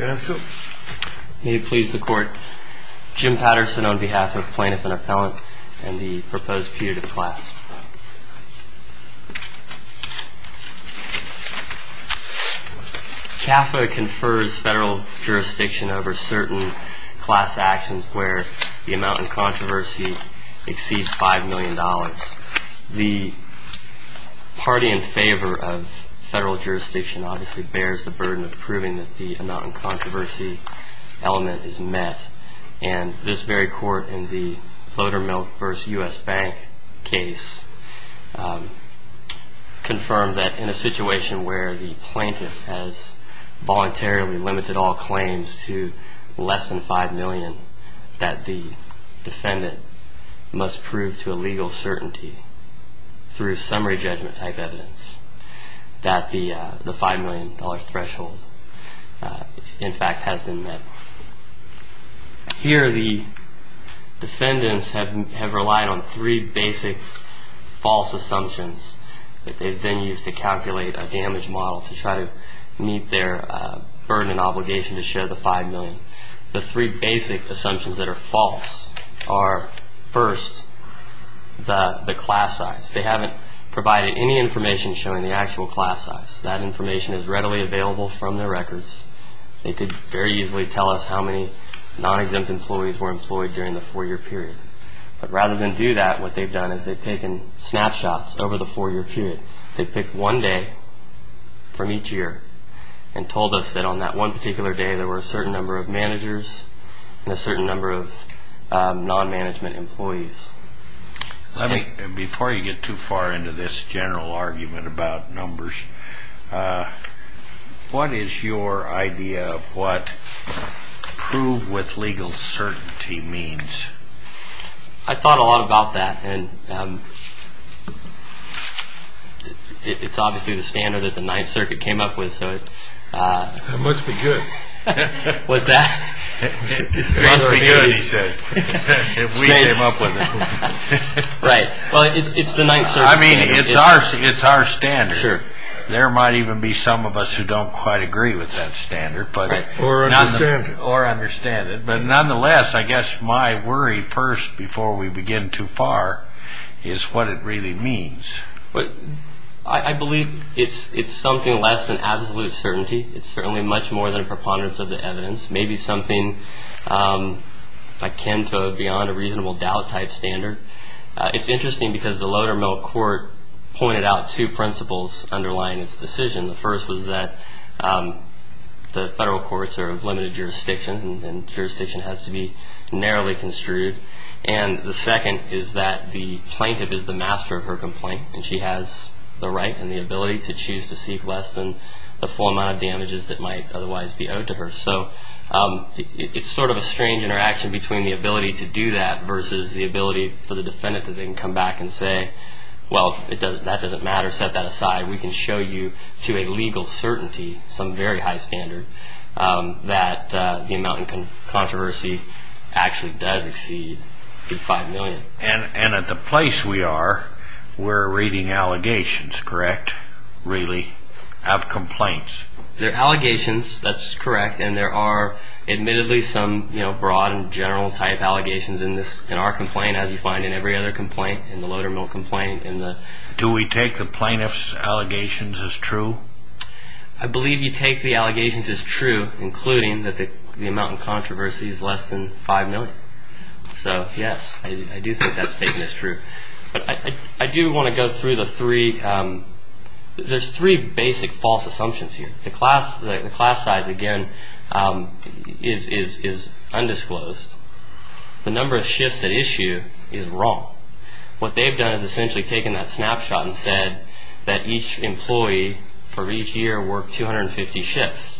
May it please the Court, Jim Patterson on behalf of Plaintiff and Appellant and the proposed petitive class. CAFA confers federal jurisdiction over certain class actions where the amount in controversy exceeds $5 million. The party in favor of federal jurisdiction obviously bears the burden of proving that the amount in controversy element is met. And this very court in the Votermilk v. U.S. Bank case confirmed that in a situation where the plaintiff has voluntarily limited all claims to less than $5 million that the defendant must prove to a legal certainty through summary judgment type evidence that the $5 million threshold in fact has been met. Here the defendants have relied on three basic false assumptions that they've then used to calculate a damage model to try to meet their burden and obligation to show the $5 million. The three basic assumptions that are false are first, the class size. They haven't provided any information showing the actual class size. That information is readily available from their records. They could very easily tell us how many non-exempt employees were employed during the four-year period. But rather than do that, what they've done is they've taken snapshots over the four-year period. They've picked one day from each year and told us that on that one particular day there were a certain number of managers and a certain number of non-management employees. Before you get too far into this general argument about numbers, what is your idea of what prove with legal certainty means? I thought a lot about that. It's obviously the standard that the Ninth Circuit came up with. That must be good. Was that? It must be good, he says, if we came up with it. Right. Well, it's the Ninth Circuit's saying. I mean, it's our standard. Sure. There might even be some of us who don't quite agree with that standard. Right. Or understand it. Or understand it. But nonetheless, I guess my worry first before we begin too far is what it really means. I believe it's something less than absolute certainty. It's certainly much more than preponderance of the evidence. Maybe something akin to beyond a reasonable doubt type standard. It's interesting because the Lodermilk Court pointed out two principles underlying its decision. The first was that the federal courts are of limited jurisdiction and jurisdiction has to be narrowly construed. And the second is that the plaintiff is the master of her complaint, and she has the right and the ability to choose to seek less than the full amount of damages that might otherwise be owed to her. So it's sort of a strange interaction between the ability to do that versus the ability for the defendant to then come back and say, well, that doesn't matter, set that aside. We can show you to a legal certainty, some very high standard, that the amount in controversy actually does exceed a good $5 million. And at the place we are, we're reading allegations, correct, really, of complaints? They're allegations, that's correct. And there are admittedly some broad and general type allegations in our complaint, as you find in every other complaint in the Lodermilk complaint. Do we take the plaintiff's allegations as true? I believe you take the allegations as true, including that the amount in controversy is less than $5 million. I do want to go through the three. There's three basic false assumptions here. The class size, again, is undisclosed. The number of shifts at issue is wrong. What they've done is essentially taken that snapshot and said that each employee for each year worked 250 shifts.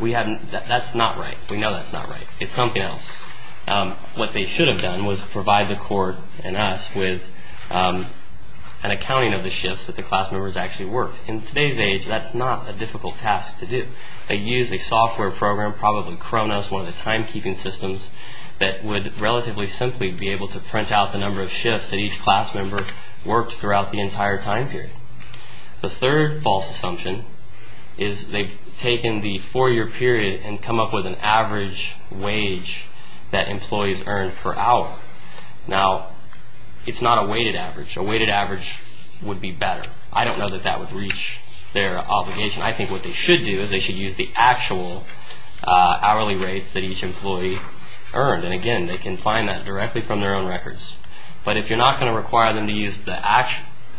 That's not right. We know that's not right. It's something else. What they should have done was provide the court and us with an accounting of the shifts that the class members actually worked. In today's age, that's not a difficult task to do. They used a software program, probably Kronos, one of the timekeeping systems, that would relatively simply be able to print out the number of shifts that each class member worked throughout the entire time period. The third false assumption is they've taken the four-year period and come up with an average wage that employees earn per hour. Now, it's not a weighted average. A weighted average would be better. I don't know that that would reach their obligation. I think what they should do is they should use the actual hourly rates that each employee earned. And, again, they can find that directly from their own records. But if you're not going to require them to use the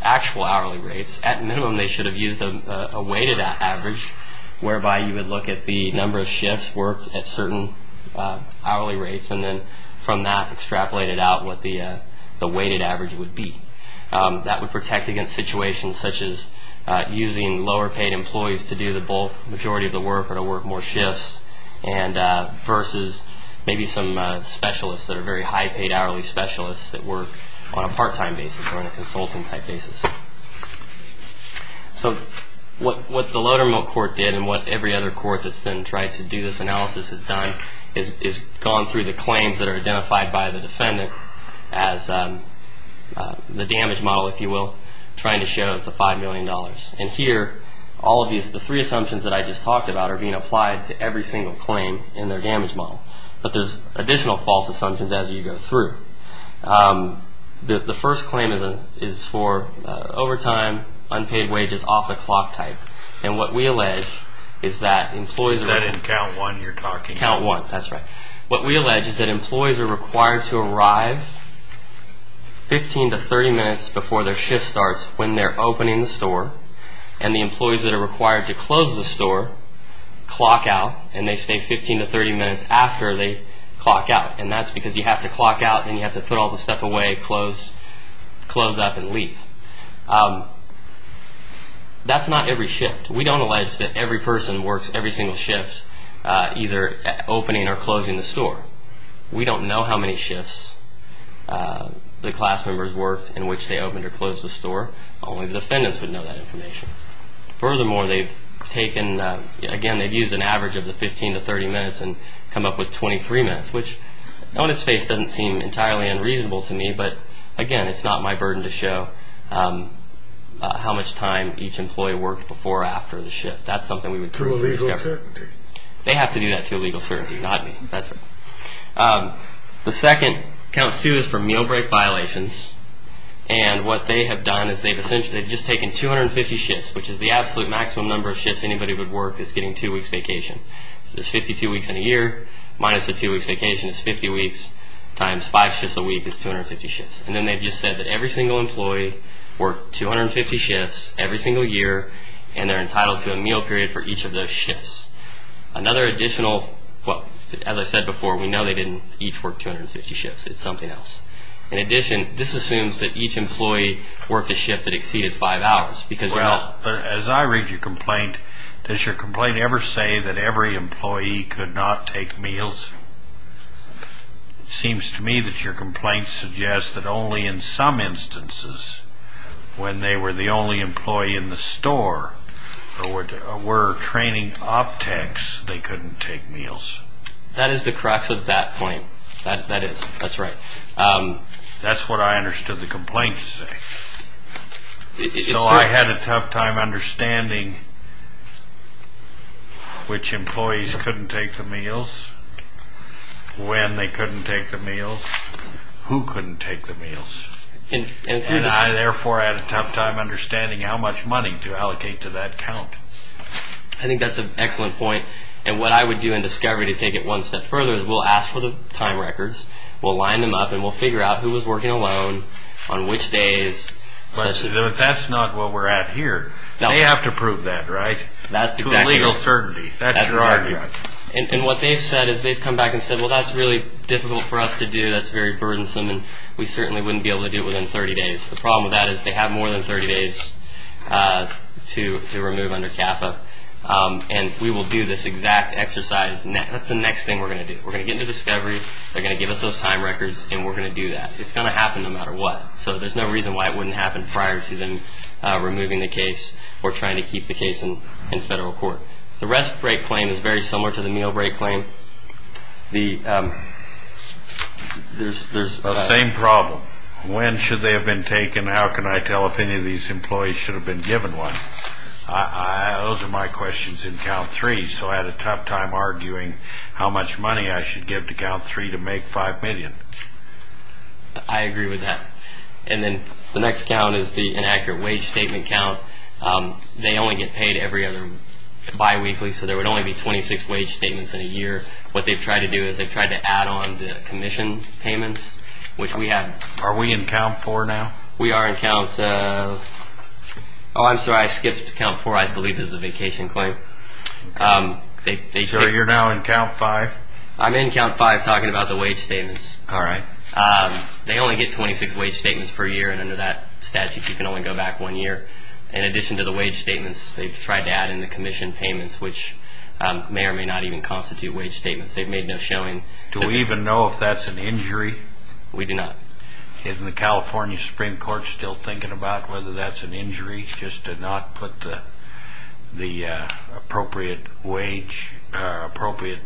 actual hourly rates, at minimum they should have used a weighted average, whereby you would look at the number of shifts worked at certain hourly rates and then from that extrapolate it out what the weighted average would be. That would protect against situations such as using lower-paid employees to do the bulk majority of the work or to work more shifts versus maybe some specialists that are very high-paid hourly specialists that work on a part-time basis or on a consulting-type basis. So what the Lowdermilk Court did and what every other court that's been trying to do this analysis has done is gone through the claims that are identified by the defendant as the damage model, if you will, trying to show it's the $5 million. And here, all of these, the three assumptions that I just talked about are being applied to every single claim in their damage model. But there's additional false assumptions as you go through. The first claim is for overtime, unpaid wages, off-the-clock type. And what we allege is that employees are... Is that in Count 1 you're talking about? Count 1, that's right. What we allege is that employees are required to arrive 15 to 30 minutes before their shift starts when they're opening the store. And the employees that are required to close the store clock out, and they stay 15 to 30 minutes after they clock out. And that's because you have to clock out and you have to put all the stuff away, close up, and leave. That's not every shift. We don't allege that every person works every single shift, either opening or closing the store. We don't know how many shifts the class members worked in which they opened or closed the store. Only the defendants would know that information. Furthermore, they've taken... Again, they've used an average of the 15 to 30 minutes and come up with 23 minutes, which on its face doesn't seem entirely unreasonable to me, but, again, it's not my burden to show how much time each employee worked before or after the shift. That's something we would... To a legal certainty. They have to do that to a legal certainty, not me. The second, count two, is for meal break violations. And what they have done is they've essentially just taken 250 shifts, which is the absolute maximum number of shifts anybody would work is getting two weeks vacation. So there's 52 weeks in a year minus the two weeks vacation is 50 weeks times five shifts a week is 250 shifts. And then they've just said that every single employee worked 250 shifts every single year, and they're entitled to a meal period for each of those shifts. Another additional... Well, as I said before, we know they didn't each work 250 shifts. It's something else. In addition, this assumes that each employee worked a shift that exceeded five hours because... Well, as I read your complaint, does your complaint ever say that every employee could not take meals? It seems to me that your complaint suggests that only in some instances, when they were the only employee in the store or were training optics, they couldn't take meals. That is the crux of that point. That is. That's right. That's what I understood the complaint to say. So I had a tough time understanding which employees couldn't take the meals, when they couldn't take the meals, who couldn't take the meals. And I, therefore, had a tough time understanding how much money to allocate to that count. I think that's an excellent point. And what I would do in discovery, to take it one step further, is we'll ask for the time records. We'll line them up, and we'll figure out who was working alone, on which days. But that's not what we're at here. They have to prove that, right? To legal certainty. That's your argument. And what they've said is they've come back and said, Well, that's really difficult for us to do. That's very burdensome, and we certainly wouldn't be able to do it within 30 days. The problem with that is they have more than 30 days to remove under CAFA. And we will do this exact exercise. That's the next thing we're going to do. We're going to get into discovery. They're going to give us those time records, and we're going to do that. It's going to happen no matter what. So there's no reason why it wouldn't happen prior to them removing the case or trying to keep the case in federal court. The rest break claim is very similar to the meal break claim. The same problem. When should they have been taken? How can I tell if any of these employees should have been given one? Those are my questions in count three. So I had a tough time arguing how much money I should give to count three to make $5 million. I agree with that. And then the next count is the inaccurate wage statement count. They only get paid every other biweekly, so there would only be 26 wage statements in a year. What they've tried to do is they've tried to add on the commission payments, which we have. Are we in count four now? We are in count – oh, I'm sorry. I skipped count four. I believe this is a vacation claim. So you're now in count five? I'm in count five talking about the wage statements. All right. They only get 26 wage statements per year, and under that statute you can only go back one year. In addition to the wage statements, they've tried to add in the commission payments, which may or may not even constitute wage statements. They've made no showing. Do we even know if that's an injury? We do not. Isn't the California Supreme Court still thinking about whether that's an injury, just to not put the appropriate wage, appropriate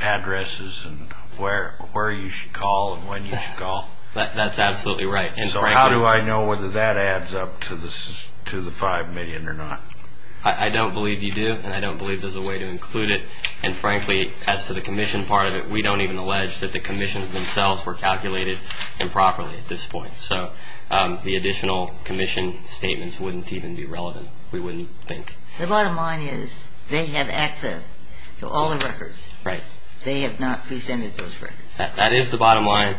addresses and where you should call and when you should call? That's absolutely right. So how do I know whether that adds up to the $5 million or not? I don't believe you do, and I don't believe there's a way to include it. And frankly, as to the commission part of it, we don't even allege that the commissions themselves were calculated improperly at this point. So the additional commission statements wouldn't even be relevant, we wouldn't think. The bottom line is they have access to all the records. Right. They have not presented those records. That is the bottom line.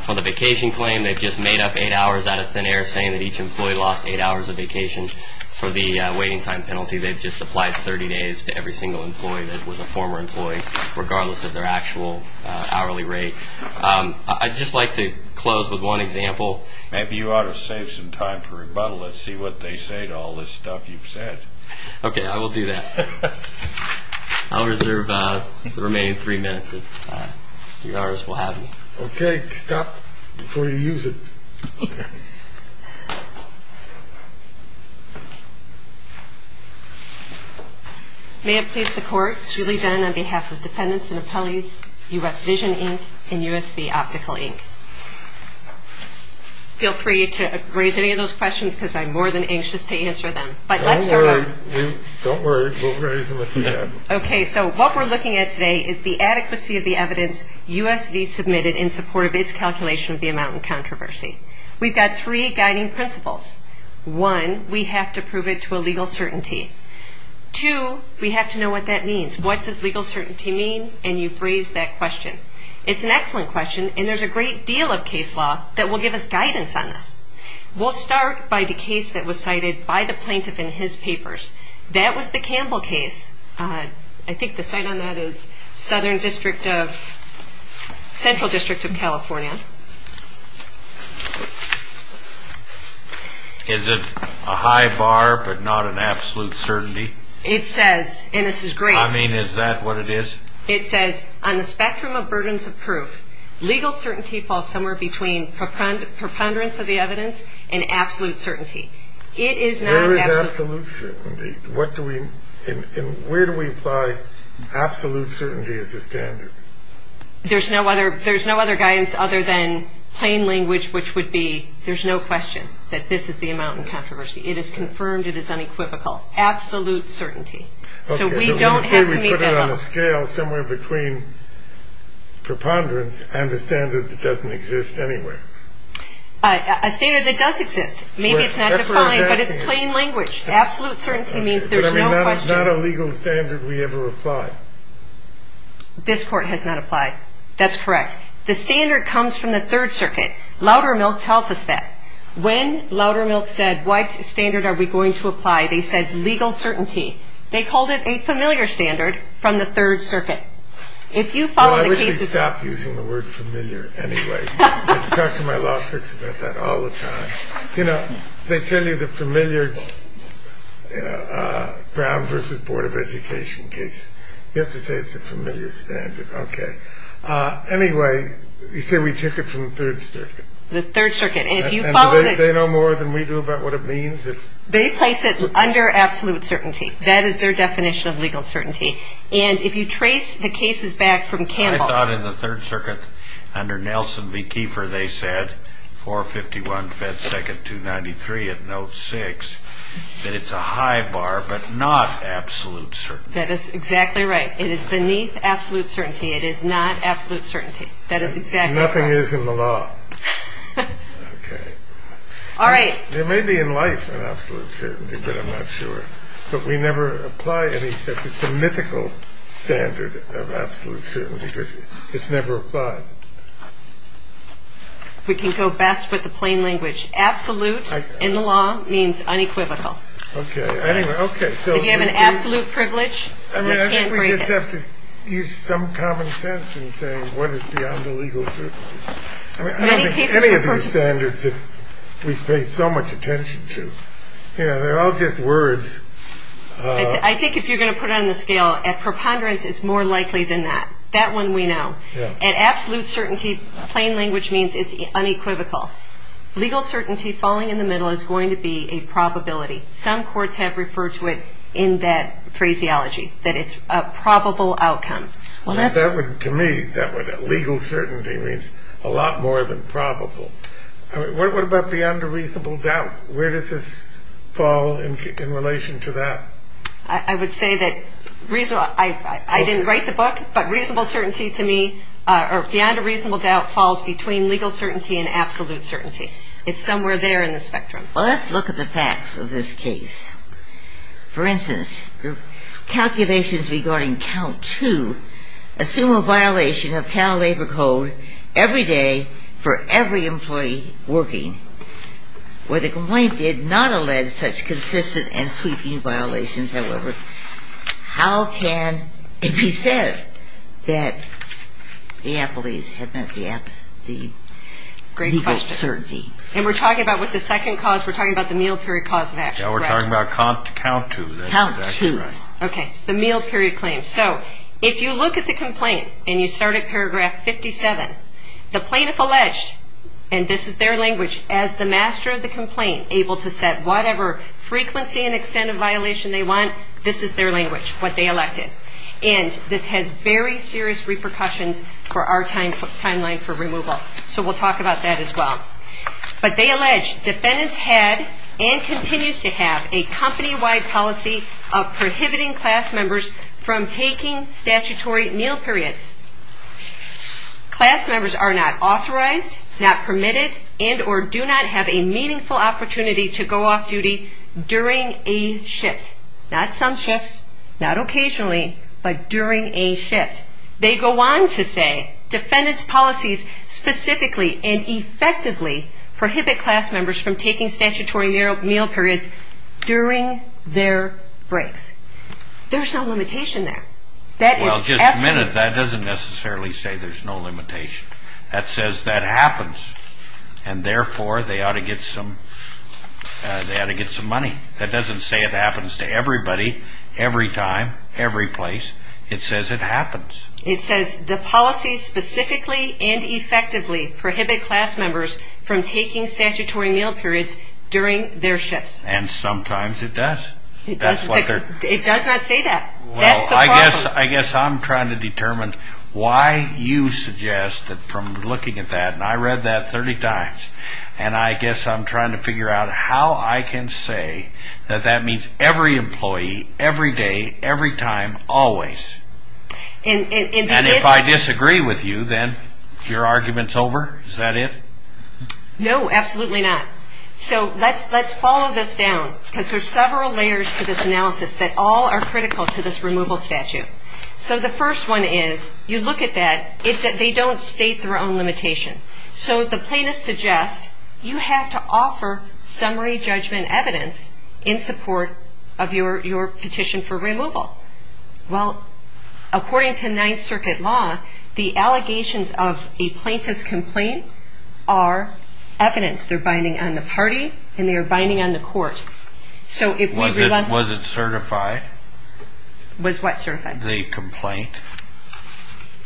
For the vacation claim, they've just made up eight hours out of thin air, saying that each employee lost eight hours of vacation. For the waiting time penalty, they've just applied 30 days to every single employee that was a former employee, regardless of their actual hourly rate. I'd just like to close with one example. Maybe you ought to save some time for rebuttal and see what they say to all this stuff you've said. Okay, I will do that. I'll reserve the remaining three minutes. Okay, stop before you use it. May it please the Court, Julie Dunn on behalf of Dependents and Appellees, U.S. Vision, Inc., and USB Optical, Inc. Feel free to raise any of those questions because I'm more than anxious to answer them. Don't worry, we'll raise them if you have them. Okay, so what we're looking at today is the adequacy of the evidence USB submitted in support of its calculation of the amount in controversy. We've got three guiding principles. One, we have to prove it to a legal certainty. Two, we have to know what that means. What does legal certainty mean? And you've raised that question. It's an excellent question, and there's a great deal of case law that will give us guidance on this. We'll start by the case that was cited by the plaintiff in his papers. That was the Campbell case. I think the site on that is Southern District of Central District of California. Is it a high bar but not an absolute certainty? It says, and this is great. I mean, is that what it is? It says, on the spectrum of burdens of proof, legal certainty falls somewhere between preponderance of the evidence and absolute certainty. Where is absolute certainty? And where do we apply absolute certainty as a standard? There's no other guidance other than plain language, which would be there's no question that this is the amount in controversy. It is confirmed. It is unequivocal. Absolute certainty. So we don't have to meet that level. Okay, so you say we put it on a scale somewhere between preponderance and a standard that doesn't exist anywhere. A standard that does exist. Maybe it's not defined, but it's plain language. Absolute certainty means there's no question. But it's not a legal standard we ever apply. This Court has not applied. That's correct. The standard comes from the Third Circuit. Loudermilk tells us that. When Loudermilk said, what standard are we going to apply, they said legal certainty. They called it a familiar standard from the Third Circuit. If you follow the cases. Well, I really stopped using the word familiar anyway. I talk to my law clerks about that all the time. You know, they tell you the familiar Brown v. Board of Education case. You have to say it's a familiar standard. Okay. Anyway, you say we took it from the Third Circuit. The Third Circuit. And if you follow the... Do they know more than we do about what it means? They place it under absolute certainty. And if you trace the cases back from Campbell... I thought in the Third Circuit, under Nelson v. Kiefer, they said, 451 Fed Second 293 at Note 6, that it's a high bar but not absolute certainty. That is exactly right. It is beneath absolute certainty. It is not absolute certainty. That is exactly right. And nothing is in the law. Okay. All right. There may be in life an absolute certainty, but I'm not sure. But we never apply any such. It's a mythical standard of absolute certainty because it's never applied. We can go best with the plain language. Absolute in the law means unequivocal. Okay. Anyway, okay, so... If you have an absolute privilege... I mean, I think we just have to use some common sense in saying what is beyond the legal certainty. I mean, I don't think any of these standards that we've paid so much attention to. You know, they're all just words. I think if you're going to put it on the scale, at preponderance, it's more likely than that. That one we know. At absolute certainty, plain language means it's unequivocal. Legal certainty, falling in the middle, is going to be a probability. Some courts have referred to it in that phraseology, that it's a probable outcome. Well, that would, to me, that legal certainty means a lot more than probable. What about beyond the reasonable doubt? Where does this fall in relation to that? I would say that reasonable... I didn't write the book, but reasonable certainty to me, or beyond a reasonable doubt, falls between legal certainty and absolute certainty. It's somewhere there in the spectrum. Well, let's look at the facts of this case. For instance, the calculations regarding count two assume a violation of Cal Labor Code every day for every employee working. Where the complaint did not allege such consistent and sweeping violations, however, how can it be said that the employees have met the legal certainty? And we're talking about with the second cause, we're talking about the meal period cause of action. Yeah, we're talking about count two. Count two. Okay. The meal period claim. So if you look at the complaint and you start at paragraph 57, the plaintiff alleged, and this is their language, as the master of the complaint, able to set whatever frequency and extent of violation they want, this is their language, what they elected. And this has very serious repercussions for our timeline for removal. So we'll talk about that as well. But they allege defendants had and continues to have a company-wide policy of prohibiting class members from taking statutory meal periods. Class members are not authorized, not permitted, and or do not have a meaningful opportunity to go off duty during a shift. Not some shifts, not occasionally, but during a shift. They go on to say defendants' policies specifically and effectively prohibit class members from taking statutory meal periods during their breaks. There's no limitation there. Well, just a minute, that doesn't necessarily say there's no limitation. That says that happens, and therefore they ought to get some money. That doesn't say it happens to everybody, every time, every place. It says it happens. It says the policies specifically and effectively prohibit class members from taking statutory meal periods during their shifts. And sometimes it does. It does not say that. Well, I guess I'm trying to determine why you suggest that from looking at that, and I read that 30 times, and I guess I'm trying to figure out how I can say that that means every employee, every day, every time, always. And if I disagree with you, then your argument's over? Is that it? No, absolutely not. So let's follow this down because there's several layers to this analysis that all are critical to this removal statute. So the first one is, you look at that, they don't state their own limitation. So the plaintiffs suggest you have to offer summary judgment evidence in support of your petition for removal. Well, according to Ninth Circuit law, the allegations of a plaintiff's complaint are evidence. They're binding on the party, and they are binding on the court. Was it certified? Was what certified? The complaint.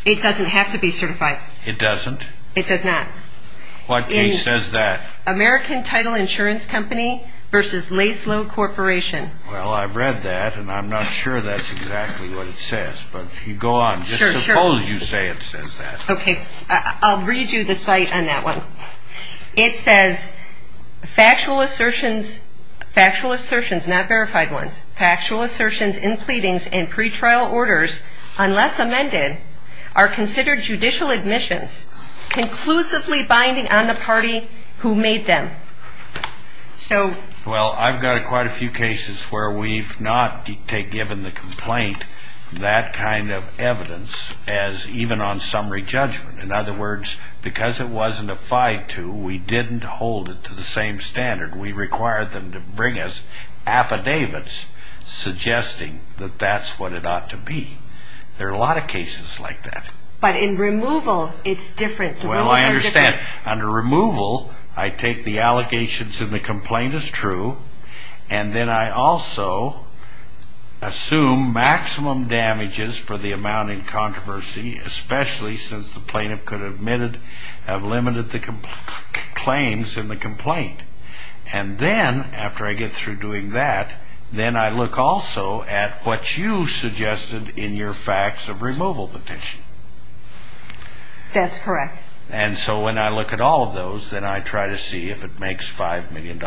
It doesn't have to be certified. It doesn't? It does not. What case says that? American Title Insurance Company v. Laslo Corporation. Well, I've read that, and I'm not sure that's exactly what it says. But if you go on, just suppose you say it says that. Okay. I'll read you the cite on that one. It says, factual assertions, factual assertions, not verified ones, factual assertions in pleadings and pretrial orders, unless amended, are considered judicial admissions, conclusively binding on the party who made them. Well, I've got quite a few cases where we've not given the complaint that kind of evidence as even on summary judgment. In other words, because it wasn't applied to, we didn't hold it to the same standard. We required them to bring us affidavits suggesting that that's what it ought to be. There are a lot of cases like that. But in removal, it's different. Well, I understand. Under removal, I take the allegations in the complaint as true, and then I also assume maximum damages for the amount in controversy, especially since the plaintiff could have limited the claims in the complaint. And then, after I get through doing that, then I look also at what you suggested in your facts of removal petition. That's correct. And so when I look at all of those, then I try to see if it makes $5 million.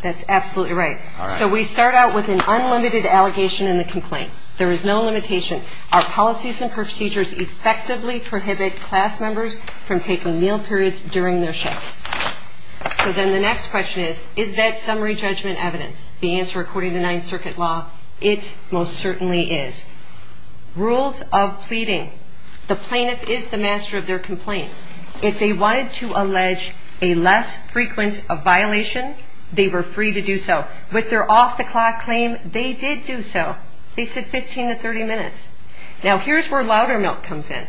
That's absolutely right. All right. So we start out with an unlimited allegation in the complaint. There is no limitation. Our policies and procedures effectively prohibit class members from taking meal periods during their shifts. So then the next question is, is that summary judgment evidence? The answer, according to Ninth Circuit law, it most certainly is. Rules of pleading. The plaintiff is the master of their complaint. If they wanted to allege a less frequent violation, they were free to do so. With their off-the-clock claim, they did do so. They said 15 to 30 minutes. Now, here's where Loudermilk comes in.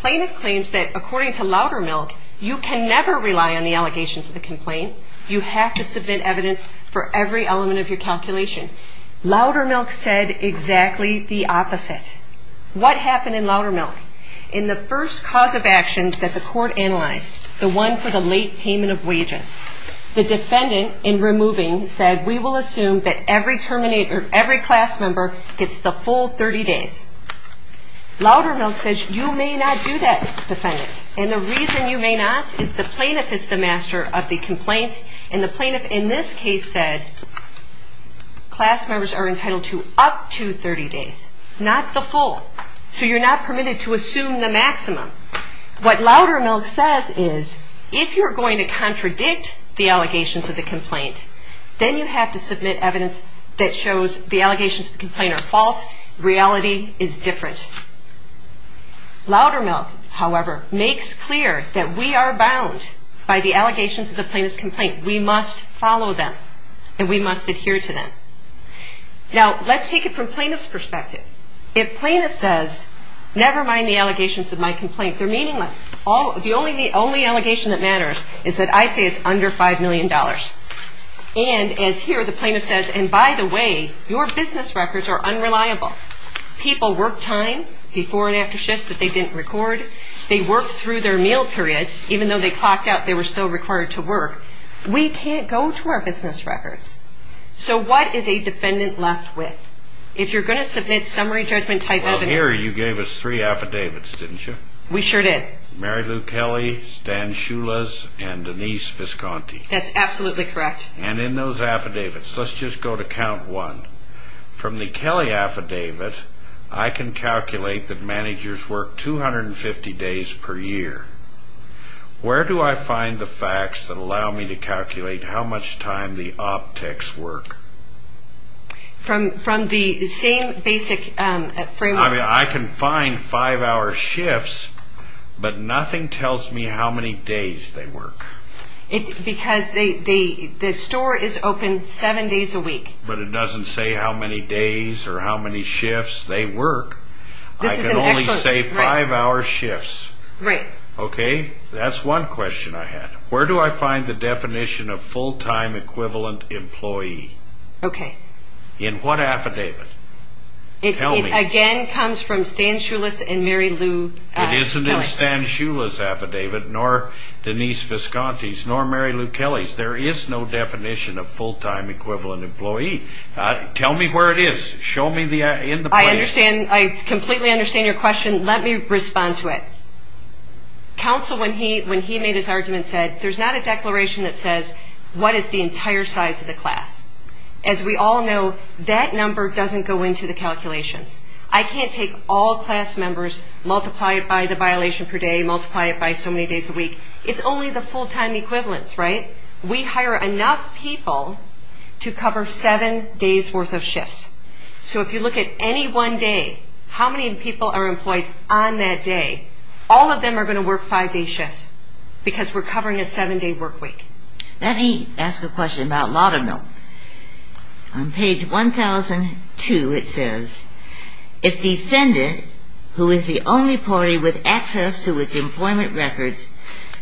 Plaintiff claims that, according to Loudermilk, you can never rely on the allegations of the complaint. You have to submit evidence for every element of your calculation. Loudermilk said exactly the opposite. What happened in Loudermilk? In the first cause of action that the court analyzed, the one for the late payment of wages, the defendant in removing said, we will assume that every class member gets the full 30 days. Loudermilk says, you may not do that, defendant. And the reason you may not is the plaintiff is the master of the complaint. And the plaintiff in this case said, class members are entitled to up to 30 days, not the full. So you're not permitted to assume the maximum. What Loudermilk says is, if you're going to contradict the allegations of the complaint, then you have to submit evidence that shows the allegations of the complaint are false, reality is different. Loudermilk, however, makes clear that we are bound by the allegations of the plaintiff's complaint. We must follow them and we must adhere to them. Now, let's take it from plaintiff's perspective. If plaintiff says, never mind the allegations of my complaint, they're meaningless. The only allegation that matters is that I say it's under $5 million. And as here, the plaintiff says, and by the way, your business records are unreliable. People work time, before and after shifts that they didn't record. They worked through their meal periods, even though they clocked out they were still required to work. We can't go to our business records. So what is a defendant left with? If you're going to submit summary judgment type evidence. Well, here you gave us three affidavits, didn't you? We sure did. Mary Lou Kelly, Stan Schulas, and Denise Visconti. That's absolutely correct. And in those affidavits, let's just go to count one. From the Kelly affidavit, I can calculate that managers work 250 days per year. Where do I find the facts that allow me to calculate how much time the optics work? From the same basic framework. I mean, I can find five-hour shifts, but nothing tells me how many days they work. But it doesn't say how many days or how many shifts they work. I can only say five-hour shifts. Right. Okay. That's one question I had. Where do I find the definition of full-time equivalent employee? Okay. In what affidavit? It again comes from Stan Schulas and Mary Lou Kelly. It isn't in Stan Schulas' affidavit, nor Denise Visconti's, nor Mary Lou Kelly's. There is no definition of full-time equivalent employee. Tell me where it is. Show me in the play. I completely understand your question. Let me respond to it. Counsel, when he made his argument, said, there's not a declaration that says what is the entire size of the class. As we all know, that number doesn't go into the calculations. I can't take all class members, multiply it by the violation per day, multiply it by so many days a week. It's only the full-time equivalents, right? We hire enough people to cover seven days' worth of shifts. So if you look at any one day, how many people are employed on that day, all of them are going to work five-day shifts because we're covering a seven-day work week. Let me ask a question about Laudermill. On page 1002, it says, if defendant, who is the only party with access to its employment records,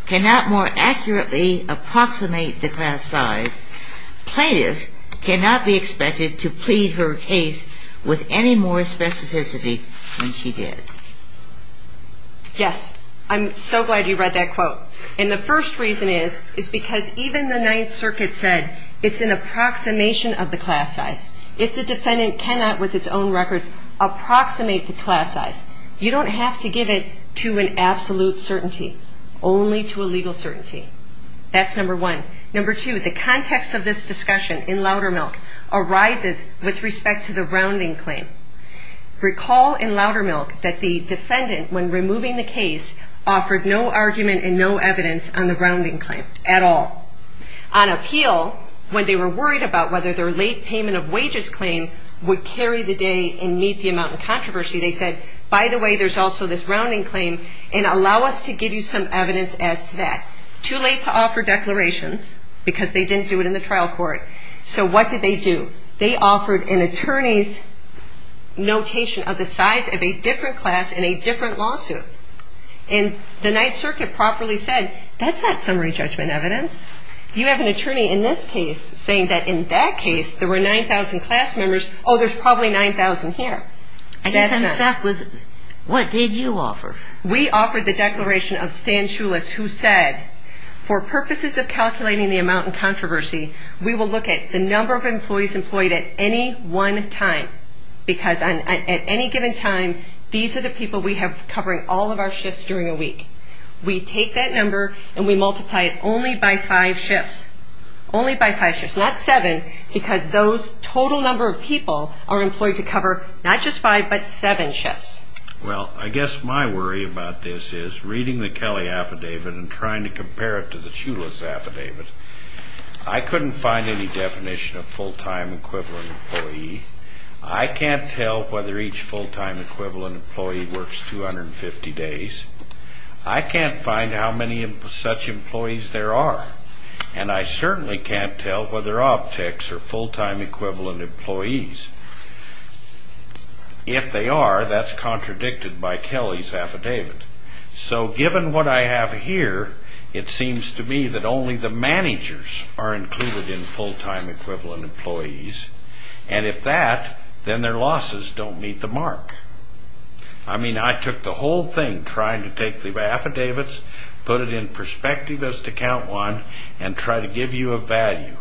cannot more accurately approximate the class size, plaintiff cannot be expected to plead her case with any more specificity than she did. Yes. I'm so glad you read that quote. And the first reason is, is because even the Ninth Circuit said it's an approximation of the class size. If the defendant cannot, with its own records, approximate the class size, you don't have to give it to an absolute certainty, only to a legal certainty. That's number one. Number two, the context of this discussion in Laudermill arises with respect to the rounding claim. Recall in Laudermill that the defendant, when removing the case, offered no argument and no evidence on the rounding claim at all. On appeal, when they were worried about whether their late payment of wages claim would carry the day and meet the amount of controversy, they said, by the way, there's also this rounding claim, and allow us to give you some evidence as to that. Too late to offer declarations because they didn't do it in the trial court. So what did they do? They offered an attorney's notation of the size of a different class in a different lawsuit. And the Ninth Circuit properly said, that's not summary judgment evidence. You have an attorney in this case saying that in that case there were 9,000 class members. Oh, there's probably 9,000 here. I guess I'm stuck with what did you offer? We offered the declaration of Stan Shulis who said, for purposes of calculating the amount in controversy, we will look at the number of employees employed at any one time. Because at any given time, these are the people we have covering all of our shifts during a week. We take that number and we multiply it only by five shifts. Only by five shifts, not seven, because those total number of people are employed to cover not just five, but seven shifts. Well, I guess my worry about this is reading the Kelly affidavit and trying to compare it to the Shulis affidavit, I couldn't find any definition of full-time equivalent employee. I can't tell whether each full-time equivalent employee works 250 days. I can't find how many such employees there are. And I certainly can't tell whether objects are full-time equivalent employees. If they are, that's contradicted by Kelly's affidavit. So given what I have here, it seems to me that only the managers are included in full-time equivalent employees. And if that, then their losses don't meet the mark. I mean, I took the whole thing, trying to take the affidavits, put it in perspective as to Count 1, and try to give you a value.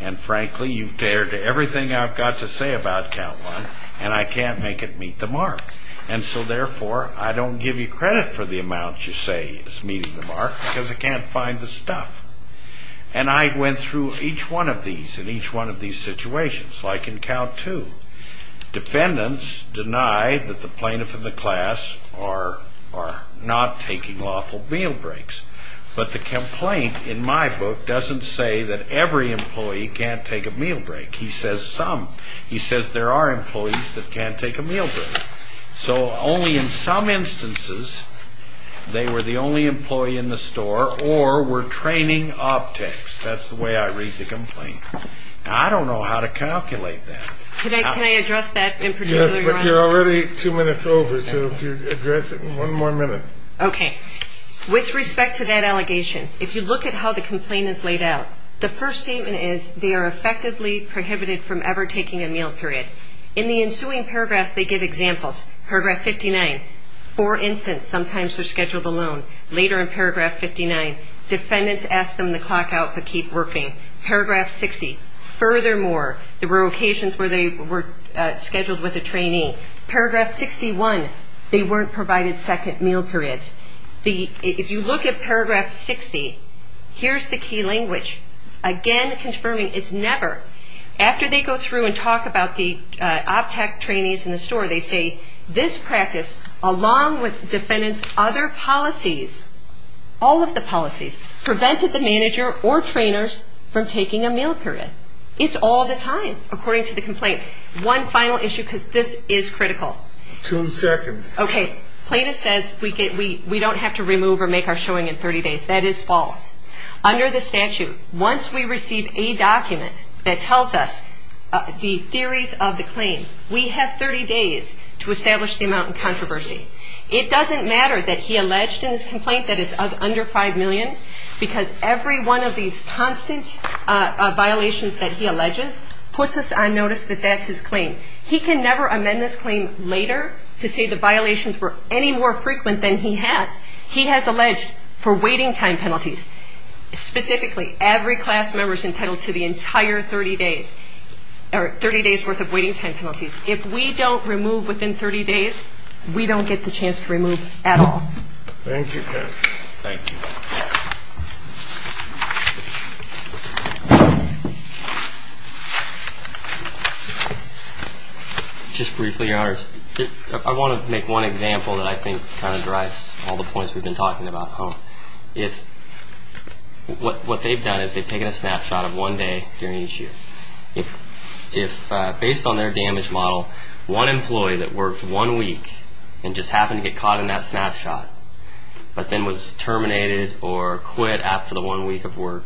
And frankly, you've dared to everything I've got to say about Count 1, and I can't make it meet the mark. And so therefore, I don't give you credit for the amount you say is meeting the mark because I can't find the stuff. And I went through each one of these in each one of these situations, like in Count 2. Defendants deny that the plaintiff and the class are not taking lawful meal breaks. But the complaint in my book doesn't say that every employee can't take a meal break. He says some. He says there are employees that can't take a meal break. So only in some instances they were the only employee in the store or were training optics. That's the way I read the complaint. I don't know how to calculate that. Can I address that in particular, Your Honor? Yes, but you're already two minutes over, so if you'd address it in one more minute. Okay. With respect to that allegation, if you look at how the complaint is laid out, the first statement is they are effectively prohibited from ever taking a meal period. In the ensuing paragraphs, they give examples. Paragraph 59, for instance, sometimes they're scheduled alone. Later in paragraph 59, defendants ask them to clock out but keep working. Paragraph 60, furthermore, there were occasions where they were scheduled with a trainee. Paragraph 61, they weren't provided second meal periods. If you look at paragraph 60, here's the key language. Again, confirming it's never. After they go through and talk about the optics trainees in the store, they say this practice, along with defendants' other policies, all of the policies, prevented the manager or trainers from taking a meal period. It's all the time, according to the complaint. One final issue, because this is critical. Two seconds. Okay. Plaintiff says we don't have to remove or make our showing in 30 days. That is false. Under the statute, once we receive a document that tells us the theories of the claim, we have 30 days to establish the amount in controversy. It doesn't matter that he alleged in his complaint that it's under $5 million, because every one of these constant violations that he alleges puts us on notice that that's his claim. He can never amend this claim later to say the violations were any more frequent than he has. He has alleged for waiting time penalties. Specifically, every class member is entitled to the entire 30 days, or 30 days' worth of waiting time penalties. If we don't remove within 30 days, we don't get the chance to remove at all. Thank you, Kirsten. Thank you. Just briefly, Your Honors, I want to make one example that I think kind of drives all the points we've been talking about. What they've done is they've taken a snapshot of one day during each year. If, based on their damage model, one employee that worked one week and just happened to get caught in that snapshot, but then was terminated or quit after the one week of work,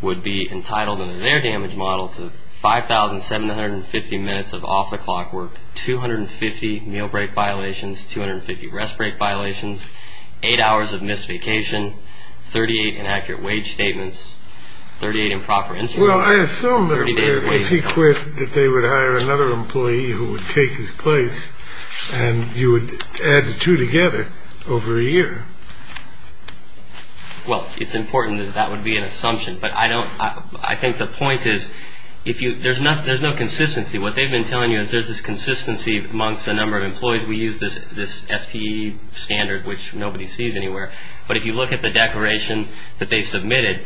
would be entitled under their damage model to 5,750 minutes of off-the-clock work, 250 meal break violations, 250 rest break violations, 8 hours of missed vacation, 38 inaccurate wage statements, 38 improper instruments. Well, I assume that if he quit that they would hire another employee who would take his place and you would add the two together over a year. Well, it's important that that would be an assumption. But I think the point is there's no consistency. What they've been telling you is there's this consistency amongst a number of employees. We use this FTE standard, which nobody sees anywhere. But if you look at the declaration that they submitted,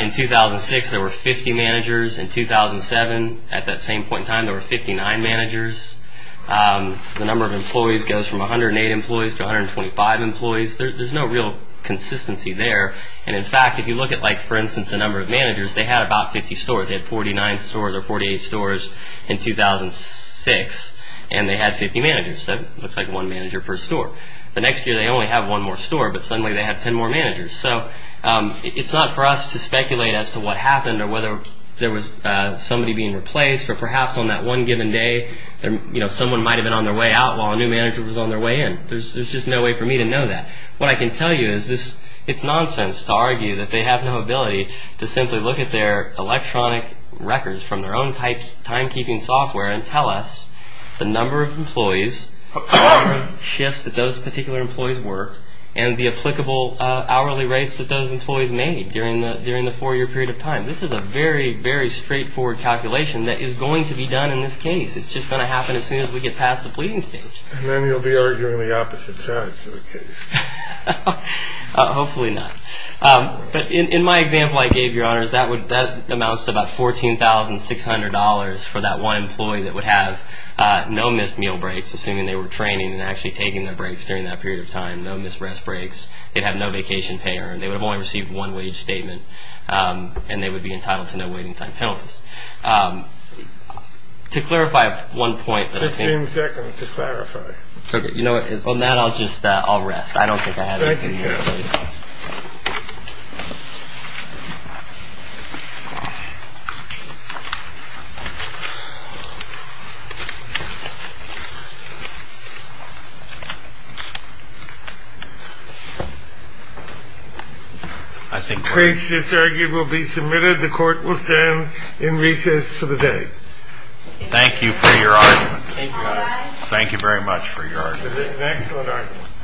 in 2006 there were 50 managers. In 2007, at that same point in time, there were 59 managers. The number of employees goes from 108 employees to 125 employees. There's no real consistency there. And, in fact, if you look at, for instance, the number of managers, they had about 50 stores. They had 49 stores or 48 stores in 2006, and they had 50 managers. So it looks like one manager per store. The next year they only have one more store, but suddenly they have 10 more managers. So it's not for us to speculate as to what happened or whether there was somebody being replaced or perhaps on that one given day someone might have been on their way out while a new manager was on their way in. There's just no way for me to know that. What I can tell you is it's nonsense to argue that they have no ability to simply look at their electronic records from their own timekeeping software and tell us the number of employees, the number of shifts that those particular employees worked, and the applicable hourly rates that those employees made during the four-year period of time. This is a very, very straightforward calculation that is going to be done in this case. It's just going to happen as soon as we get past the pleading stage. And then you'll be arguing the opposite sides of the case. Hopefully not. But in my example I gave, Your Honors, that amounts to about $14,600 for that one employee that would have no missed meal breaks, assuming they were training and actually taking their breaks during that period of time, no missed rest breaks. They'd have no vacation pay earned. They would have only received one wage statement, and they would be entitled to no waiting time penalties. To clarify one point that I think... Fifteen seconds to clarify. Okay. You know what? On that I'll just rest. I don't think I have anything else. Thank you, sir. The case just argued will be submitted. The Court will stand in recess for the day. Thank you for your argument. Thank you, Your Honor. Thank you very much for your argument. Thank you for your argument.